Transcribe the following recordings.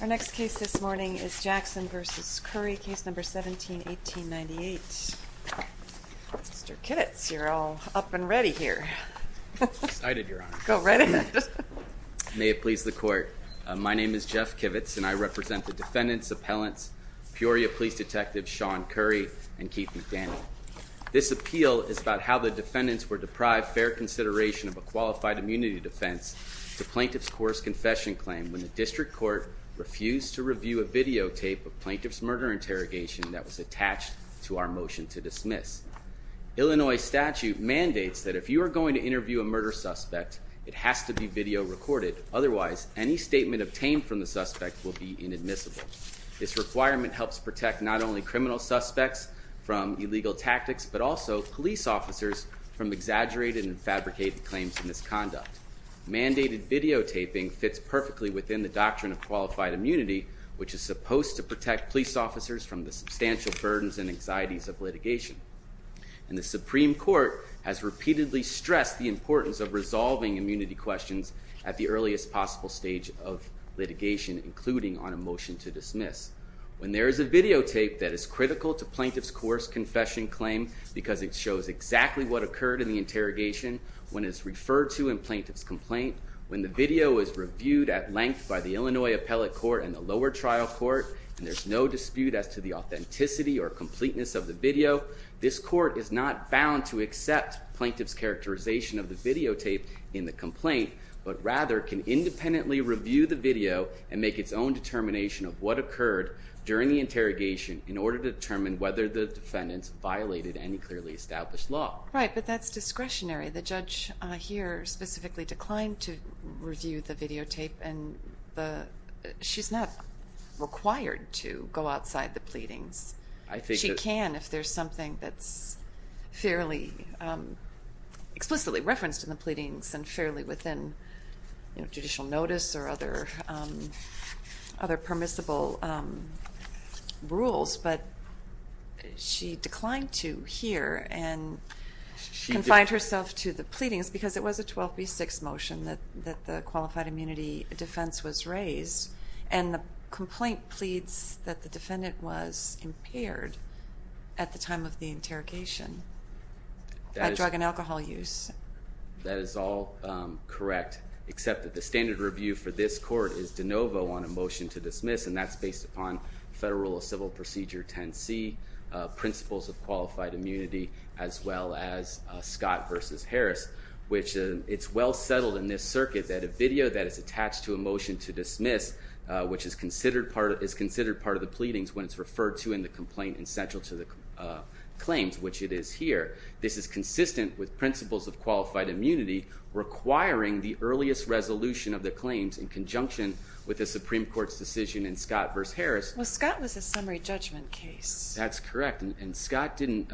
Our next case this morning is Jackson v. Curry, Case No. 17-1898. Mr. Kivitz, you're all up and ready here. Excited, Your Honor. Go right ahead. May it please the Court. My name is Jeff Kivitz, and I represent the defendants, appellants, Peoria Police Detective Shawn Curry, and Keith McDaniel. This appeal is about how the defendants were deprived fair consideration of a qualified immunity defense to plaintiff's course confession claim when the district court refused to review a videotape of plaintiff's murder interrogation that was attached to our motion to dismiss. Illinois statute mandates that if you are going to interview a murder suspect, it has to be video recorded. Otherwise, any statement obtained from the suspect will be inadmissible. This requirement helps protect not only criminal suspects from illegal tactics, but also police officers from exaggerated and fabricated claims of misconduct. Mandated videotaping fits perfectly within the doctrine of qualified immunity, which is supposed to protect police officers from the substantial burdens and anxieties of litigation. And the Supreme Court has repeatedly stressed the importance of resolving immunity questions at the earliest possible stage of litigation, including on a motion to dismiss. When there is a videotape that is critical to plaintiff's course confession claim because it shows exactly what occurred in the interrogation, when it's referred to in plaintiff's complaint, when the video is reviewed at length by the Illinois appellate court and the lower trial court, and there's no dispute as to the authenticity or completeness of the video, this court is not bound to accept plaintiff's characterization of the videotape in the complaint, but rather can independently review the video and make its own determination of what occurred during the interrogation in order to determine whether the defendants violated any clearly established law. Right, but that's discretionary. The judge here specifically declined to review the videotape, and she's not required to go outside the pleadings. She can if there's something that's fairly explicitly referenced in the pleadings and fairly within judicial notice or other permissible rules, but she declined to here and confined herself to the pleadings because it was a 12B6 motion that the qualified immunity defense was raised, and the complaint pleads that the defendant was impaired at the time of the interrogation by drug and alcohol use. That is all correct, except that the standard review for this court is de novo on a motion to dismiss, and that's based upon Federal Rule of Civil Procedure 10C, principles of qualified immunity, as well as Scott versus Harris, which it's well settled in this circuit that a video that is attached to a motion to dismiss, which is considered part of the pleadings when it's referred to in the complaint and central to the claims, which it is here. This is consistent with principles of qualified immunity requiring the earliest resolution of the claims in conjunction with the Supreme Court's decision in Scott versus Harris. Well, Scott was a summary judgment case. That's correct, and Scott didn't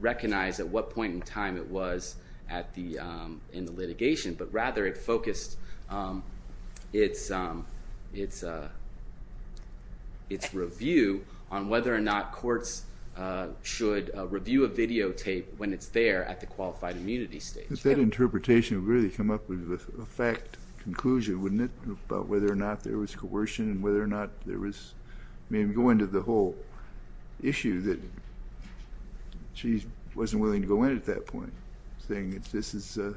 recognize at what point in time it was in the litigation, but rather it focused its review on whether or not courts should review a videotape when it's there at the qualified immunity stage. But that interpretation would really come up with a fact conclusion, wouldn't it, about whether or not there was coercion and whether or not there was going to the whole issue that she wasn't willing to go in at that point, saying this is a,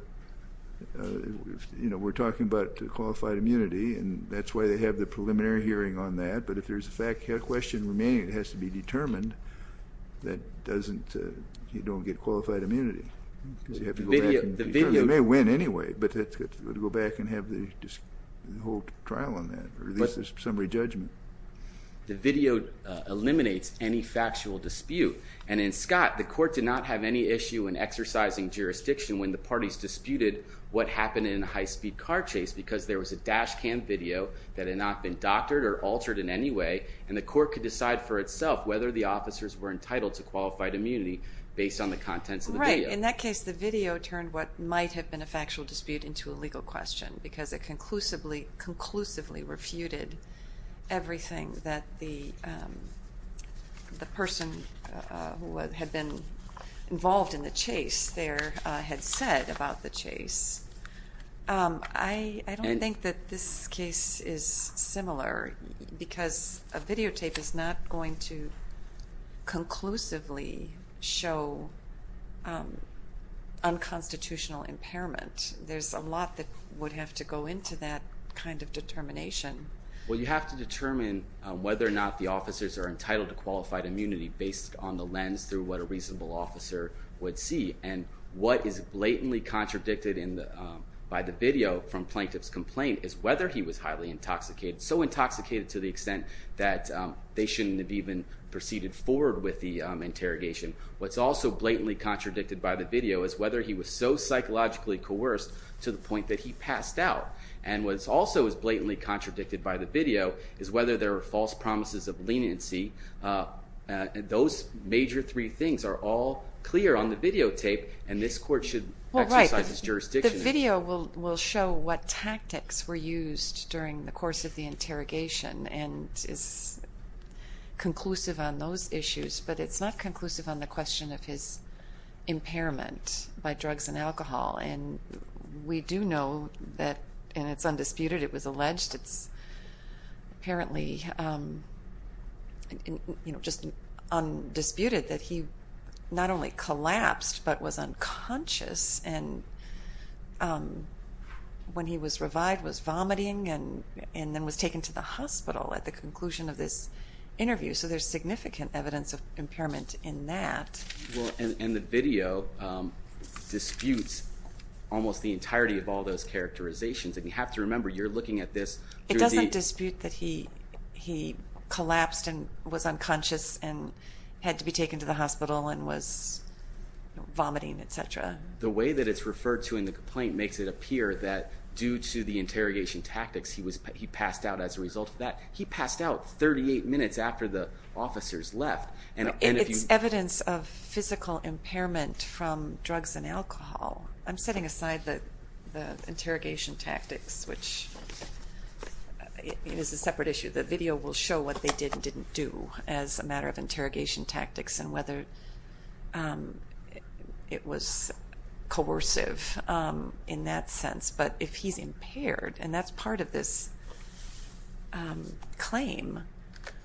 you know, we're talking about qualified immunity, and that's why they have the preliminary hearing on that, but if there's a question remaining, it has to be determined that you don't get qualified immunity. They may win anyway, but it would go back and have the whole trial on that, or at least a summary judgment. The video eliminates any factual dispute, and in Scott, the court did not have any issue in exercising jurisdiction when the parties disputed what happened in a high-speed car chase because there was a dash cam video that had not been doctored or altered in any way, and the court could decide for itself whether the officers were entitled to qualified immunity based on the contents of the video. Right. In that case, the video turned what might have been a factual dispute into a legal question because it conclusively refuted everything that the person who had been involved in the chase there had said about the chase. I don't think that this case is similar because a videotape is not going to conclusively show unconstitutional impairment. There's a lot that would have to go into that kind of determination. Well, you have to determine whether or not the officers are entitled to qualified immunity based on the lens through what a reasonable officer would see, and what is blatantly contradicted by the video from plaintiff's complaint is whether he was highly intoxicated, so intoxicated to the extent that they shouldn't have even proceeded forward with the interrogation. What's also blatantly contradicted by the video is whether he was so psychologically coerced to the point that he passed out. And what also is blatantly contradicted by the video is whether there are false promises of leniency. Those major three things are all clear on the videotape, and this court should exercise its jurisdiction. The video will show what tactics were used during the course of the interrogation and is conclusive on those issues, but it's not conclusive on the question of his impairment by drugs and alcohol. And we do know that, and it's undisputed, it was alleged, it's apparently just undisputed that he not only collapsed but was unconscious and when he was revived was vomiting and then was taken to the hospital at the conclusion of this interview. So there's significant evidence of impairment in that. Well, and the video disputes almost the entirety of all those characterizations, and you have to remember you're looking at this through the... The way that it's referred to in the complaint makes it appear that due to the interrogation tactics, he passed out as a result of that. He passed out 38 minutes after the officers left. It's evidence of physical impairment from drugs and alcohol. I'm setting aside the interrogation tactics, which is a separate issue. The video will show what they did and didn't do as a matter of interrogation tactics and whether it was coercive in that sense. But if he's impaired, and that's part of this claim,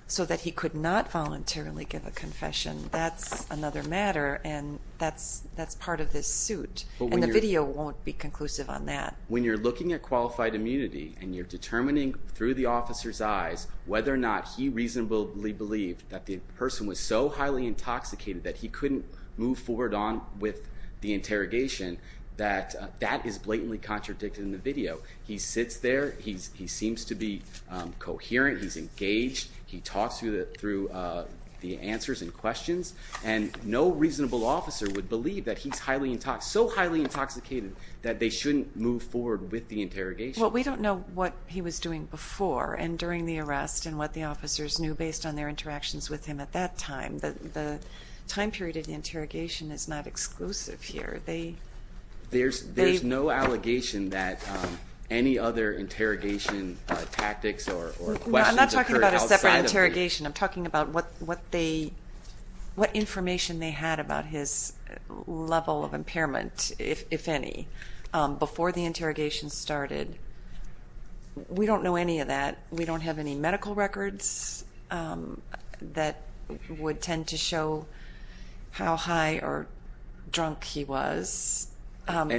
so that he could not voluntarily give a confession, that's another matter and that's part of this suit, and the video won't be conclusive on that. When you're looking at qualified immunity and you're determining through the officer's eyes whether or not he reasonably believed that the person was so highly intoxicated that he couldn't move forward on with the interrogation, that that is blatantly contradicted in the video. He sits there, he seems to be coherent, he's engaged, he talks through the answers and questions, and no reasonable officer would believe that he's so highly intoxicated that they shouldn't move forward with the interrogation. Well, we don't know what he was doing before and during the arrest and what the officers knew based on their interactions with him at that time. The time period of the interrogation is not exclusive here. There's no allegation that any other interrogation tactics or questions occurred outside of the- No, I'm not talking about a separate interrogation. I'm talking about what information they had about his level of impairment, if any, before the interrogation started. We don't know any of that. We don't have any medical records that would tend to show how high or drunk he was.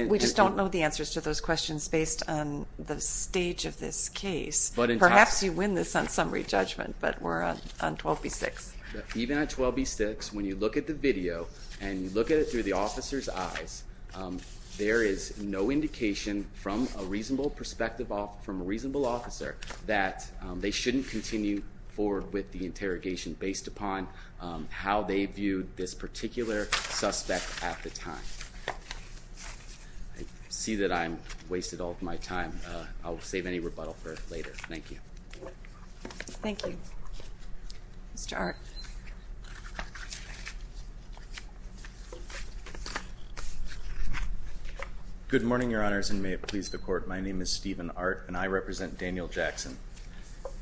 We just don't know the answers to those questions based on the stage of this case. Perhaps you win this on summary judgment, but we're on 12B6. Even on 12B6, when you look at the video and you look at it through the officer's eyes, there is no indication from a reasonable perspective, from a reasonable officer, that they shouldn't continue forward with the interrogation based upon how they viewed this particular suspect at the time. I see that I've wasted all of my time. I'll save any rebuttal for later. Thank you. Thank you. Mr. Art. Good morning, Your Honors, and may it please the Court. My name is Stephen Art, and I represent Daniel Jackson.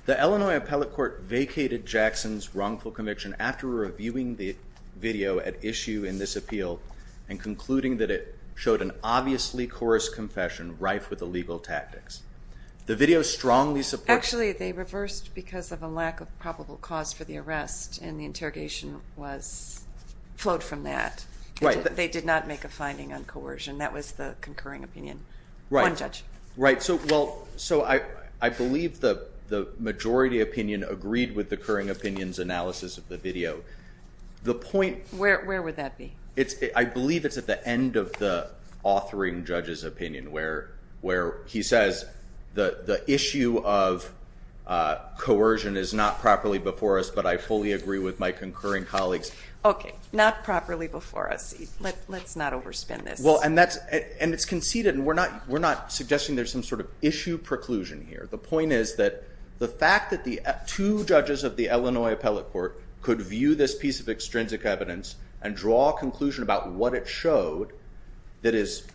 The Illinois Appellate Court vacated Jackson's wrongful conviction after reviewing the video at issue in this appeal and concluding that it showed an obviously coarse confession rife with illegal tactics. The video strongly supports- Actually, they reversed because of a lack of probable cause for the arrest, and the interrogation flowed from that. Right. They did not make a finding on coercion. That was the concurring opinion. Right. One judge. Right. So I believe the majority opinion agreed with the concurring opinion's analysis of the video. The point- Where would that be? I believe it's at the end of the authoring judge's opinion where he says the issue of coercion is not properly before us, but I fully agree with my concurring colleagues. Okay. Not properly before us. Let's not overspend this. And it's conceded, and we're not suggesting there's some sort of issue preclusion here. The point is that the fact that the two judges of the Illinois Appellate Court could view this piece of extrinsic evidence and draw a conclusion about what it showed that is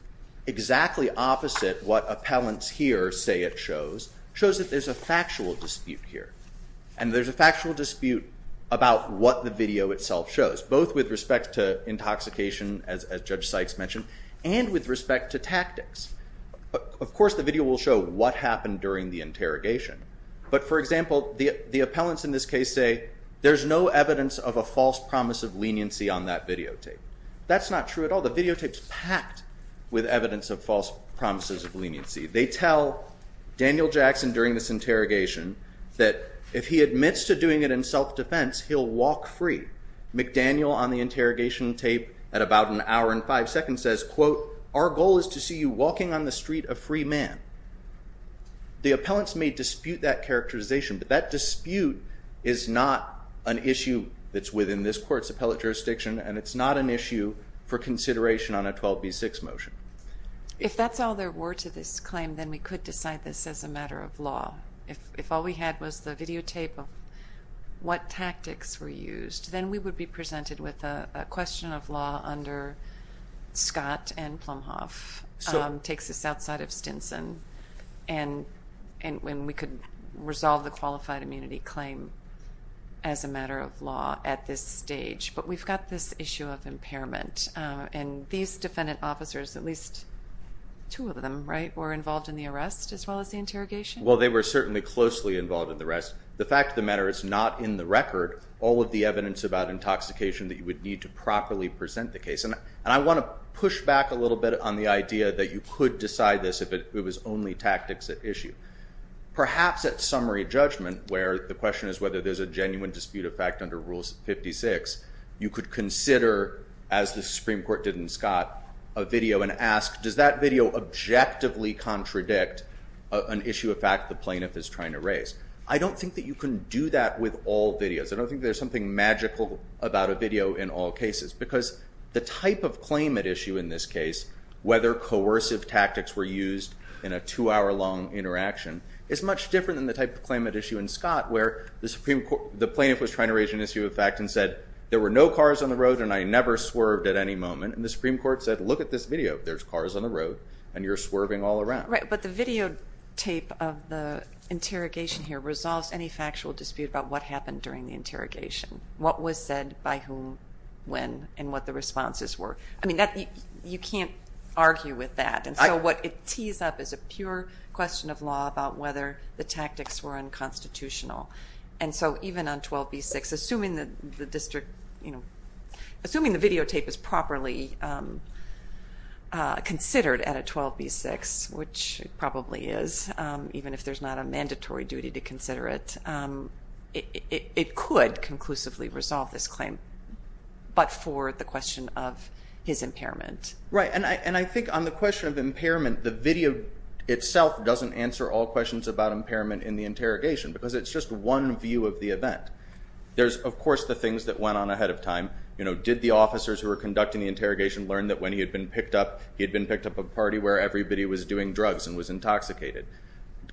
exactly opposite what appellants here say it shows, shows that there's a factual dispute here, and there's a factual dispute about what the video itself shows, both with respect to intoxication, as Judge Sykes mentioned, and with respect to tactics. Of course, the video will show what happened during the interrogation, but, for example, the appellants in this case say there's no evidence of a false promise of leniency on that videotape. That's not true at all. The videotape's packed with evidence of false promises of leniency. They tell Daniel Jackson during this interrogation that if he admits to doing it in self-defense, he'll walk free. McDaniel on the interrogation tape at about an hour and five seconds says, quote, our goal is to see you walking on the street a free man. The appellants may dispute that characterization, but that dispute is not an issue that's within this court's appellate jurisdiction, and it's not an issue for consideration on a 12B6 motion. If that's all there were to this claim, then we could decide this as a matter of law. If all we had was the videotape of what tactics were used, then we would be presented with a question of law under Scott and Plumhoff. It takes us outside of Stinson, and we could resolve the qualified immunity claim as a matter of law at this stage. But we've got this issue of impairment, and these defendant officers, at least two of them, right, were involved in the arrest as well as the interrogation? Well, they were certainly closely involved in the arrest. The fact of the matter is not in the record all of the evidence about intoxication that you would need to properly present the case. And I want to push back a little bit on the idea that you could decide this if it was only tactics at issue. Perhaps at summary judgment, where the question is whether there's a genuine dispute of fact under Rule 56, you could consider, as the Supreme Court did in Scott, a video and ask, does that video objectively contradict an issue of fact the plaintiff is trying to raise? I don't think that you can do that with all videos. I don't think there's something magical about a video in all cases because the type of claim at issue in this case, whether coercive tactics were used in a two-hour long interaction, is much different than the type of claim at issue in Scott, where the plaintiff was trying to raise an issue of fact and said, there were no cars on the road and I never swerved at any moment. And the Supreme Court said, look at this video. There's cars on the road and you're swerving all around. Right, but the videotape of the interrogation here resolves any factual dispute about what happened during the interrogation. What was said by whom, when, and what the responses were. I mean, you can't argue with that. And so what it tees up is a pure question of law about whether the tactics were unconstitutional. And so even on 12b-6, assuming the district, assuming the videotape is properly considered at a 12b-6, which it probably is, even if there's not a mandatory duty to consider it, it could conclusively resolve this claim, but for the question of his impairment. Right, and I think on the question of impairment, the video itself doesn't answer all questions about impairment in the interrogation, because it's just one view of the event. There's, of course, the things that went on ahead of time. Did the officers who were conducting the interrogation learn that when he had been picked up, he had been picked up at a party where everybody was doing drugs and was intoxicated?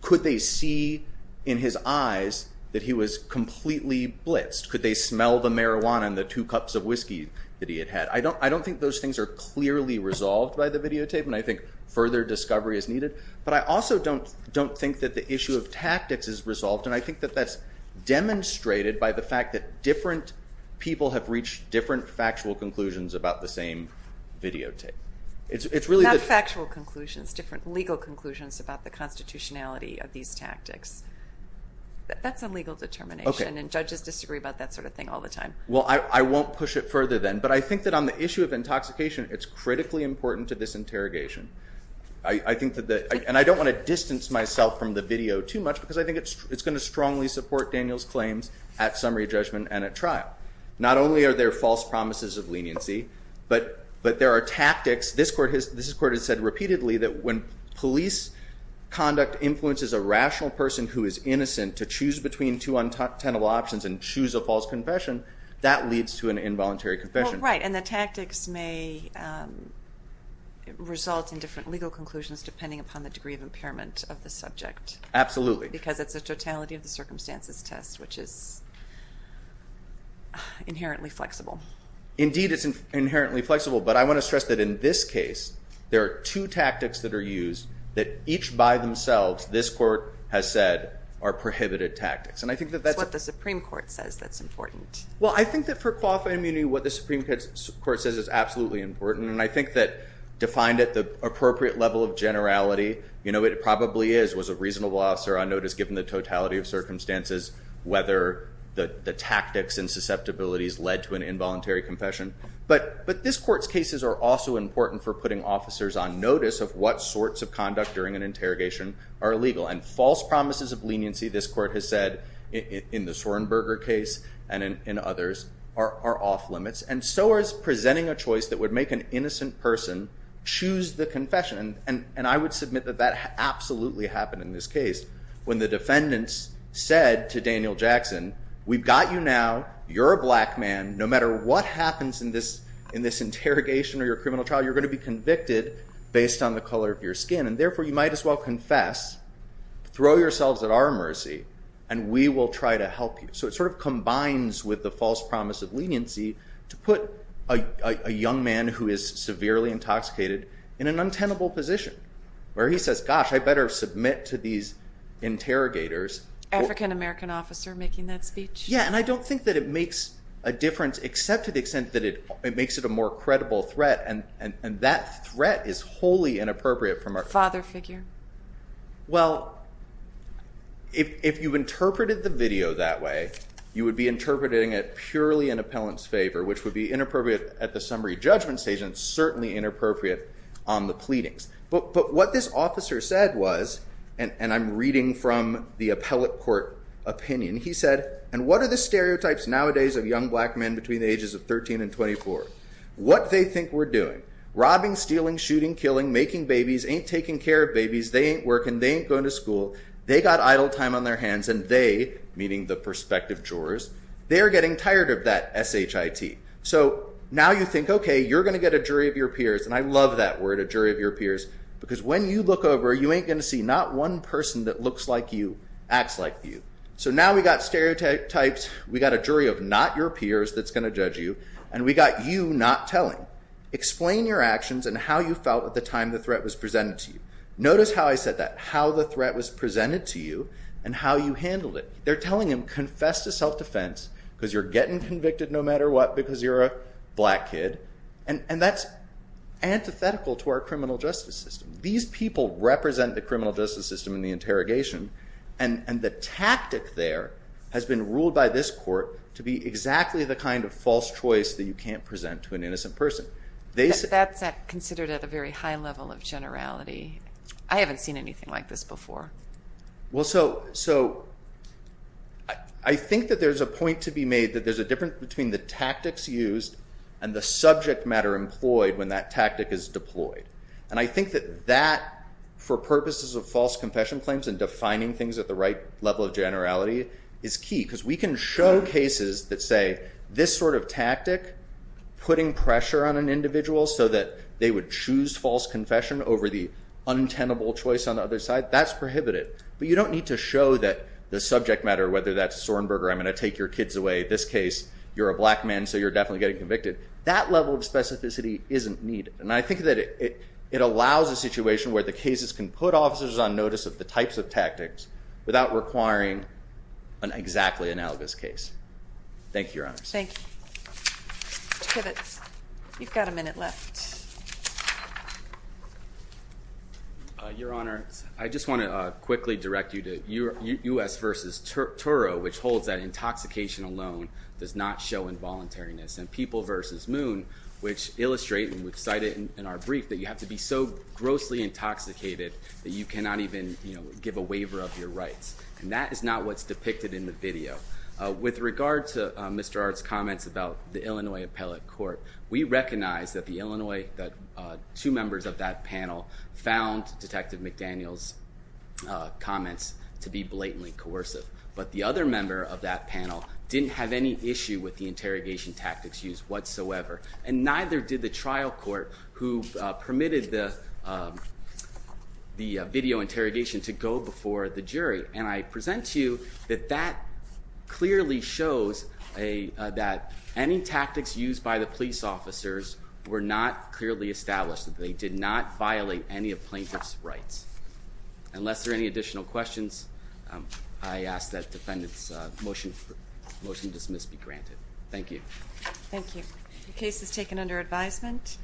Could they see in his eyes that he was completely blitzed? Could they smell the marijuana and the two cups of whiskey that he had had? I don't think those things are clearly resolved by the videotape, and I think further discovery is needed. But I also don't think that the issue of tactics is resolved, and I think that that's demonstrated by the fact that different people have reached different factual conclusions about the same videotape. Not factual conclusions, different legal conclusions about the constitutionality of these tactics. That's a legal determination, and judges disagree about that sort of thing all the time. Well, I won't push it further then, but I think that on the issue of intoxication, it's critically important to this interrogation. And I don't want to distance myself from the video too much, because I think it's going to strongly support Daniel's claims at summary judgment and at trial. Not only are there false promises of leniency, but there are tactics. This Court has said repeatedly that when police conduct influences a rational person who is innocent to choose between two untenable options and choose a false confession, that leads to an involuntary confession. Well, right, and the tactics may result in different legal conclusions depending upon the degree of impairment of the subject. Absolutely. Because it's a totality of the circumstances test, which is inherently flexible. Indeed, it's inherently flexible. But I want to stress that in this case, there are two tactics that are used that each by themselves this Court has said are prohibited tactics. It's what the Supreme Court says that's important. Well, I think that for qualified immunity, what the Supreme Court says is absolutely important, and I think that defined at the appropriate level of generality, you know, it probably is, was a reasonable officer on notice given the totality of circumstances, whether the tactics and susceptibilities led to an involuntary confession. But this Court's cases are also important for putting officers on notice of what sorts of conduct during an interrogation are illegal. And false promises of leniency, this Court has said in the Sorenberger case and in others, are off limits, and so is presenting a choice that would make an innocent person choose the confession. And I would submit that that absolutely happened in this case. When the defendants said to Daniel Jackson, we've got you now. You're a black man. No matter what happens in this interrogation or your criminal trial, you're going to be convicted based on the color of your skin. And therefore, you might as well confess, throw yourselves at our mercy, and we will try to help you. So it sort of combines with the false promise of leniency to put a young man who is severely intoxicated in an untenable position, where he says, gosh, I better submit to these interrogators. African-American officer making that speech? Yeah, and I don't think that it makes a difference, except to the extent that it makes it a more credible threat, and that threat is wholly inappropriate from our point of view. Father figure? Well, if you've interpreted the video that way, you would be interpreting it purely in appellant's favor, which would be inappropriate at the summary judgment stage, and certainly inappropriate on the pleadings. But what this officer said was, and I'm reading from the appellate court opinion, he said, and what are the stereotypes nowadays of young black men between the ages of 13 and 24? What they think we're doing? Robbing, stealing, shooting, killing, making babies, ain't taking care of babies, they ain't working, they ain't going to school, they got idle time on their hands, and they, meaning the prospective jurors, they are getting tired of that S-H-I-T. So now you think, okay, you're going to get a jury of your peers, and I love that word, a jury of your peers, because when you look over, you ain't going to see not one person that looks like you acts like you. So now we've got stereotypes, we've got a jury of not your peers that's going to judge you, and we've got you not telling. Explain your actions and how you felt at the time the threat was presented to you. Notice how I said that, how the threat was presented to you and how you handled it. They're telling him, confess to self-defense because you're getting convicted no matter what because you're a black kid, and that's antithetical to our criminal justice system. These people represent the criminal justice system in the interrogation, and the tactic there has been ruled by this court to be exactly the kind of false choice that you can't present to an innocent person. That's considered at a very high level of generality. I haven't seen anything like this before. Well, so I think that there's a point to be made that there's a difference between the tactics used and the subject matter employed when that tactic is deployed, and I think that that, for purposes of false confession claims and defining things at the right level of generality, is key because we can show cases that say this sort of tactic, putting pressure on an individual so that they would choose false confession over the untenable choice on the other side, that's prohibited, but you don't need to show that the subject matter, whether that's Sorenberger, I'm going to take your kids away, this case, you're a black man so you're definitely getting convicted. That level of specificity isn't needed, and I think that it allows a situation without requiring an exactly analogous case. Thank you, Your Honors. Thank you. Mr. Kibitz, you've got a minute left. Your Honor, I just want to quickly direct you to U.S. v. Turo, which holds that intoxication alone does not show involuntariness, and People v. Moon, which illustrate, and we've cited in our brief, that you have to be so grossly intoxicated that you cannot even give a waiver of your rights, and that is not what's depicted in the video. With regard to Mr. Art's comments about the Illinois appellate court, we recognize that two members of that panel found Detective McDaniel's comments to be blatantly coercive, but the other member of that panel didn't have any issue with the interrogation tactics used whatsoever, and neither did the trial court who permitted the video interrogation to go before the jury, and I present to you that that clearly shows that any tactics used by the police officers were not clearly established. They did not violate any of plaintiff's rights. Unless there are any additional questions, I ask that the motion to dismiss be granted. Thank you. Thank you. The case is taken under advisement.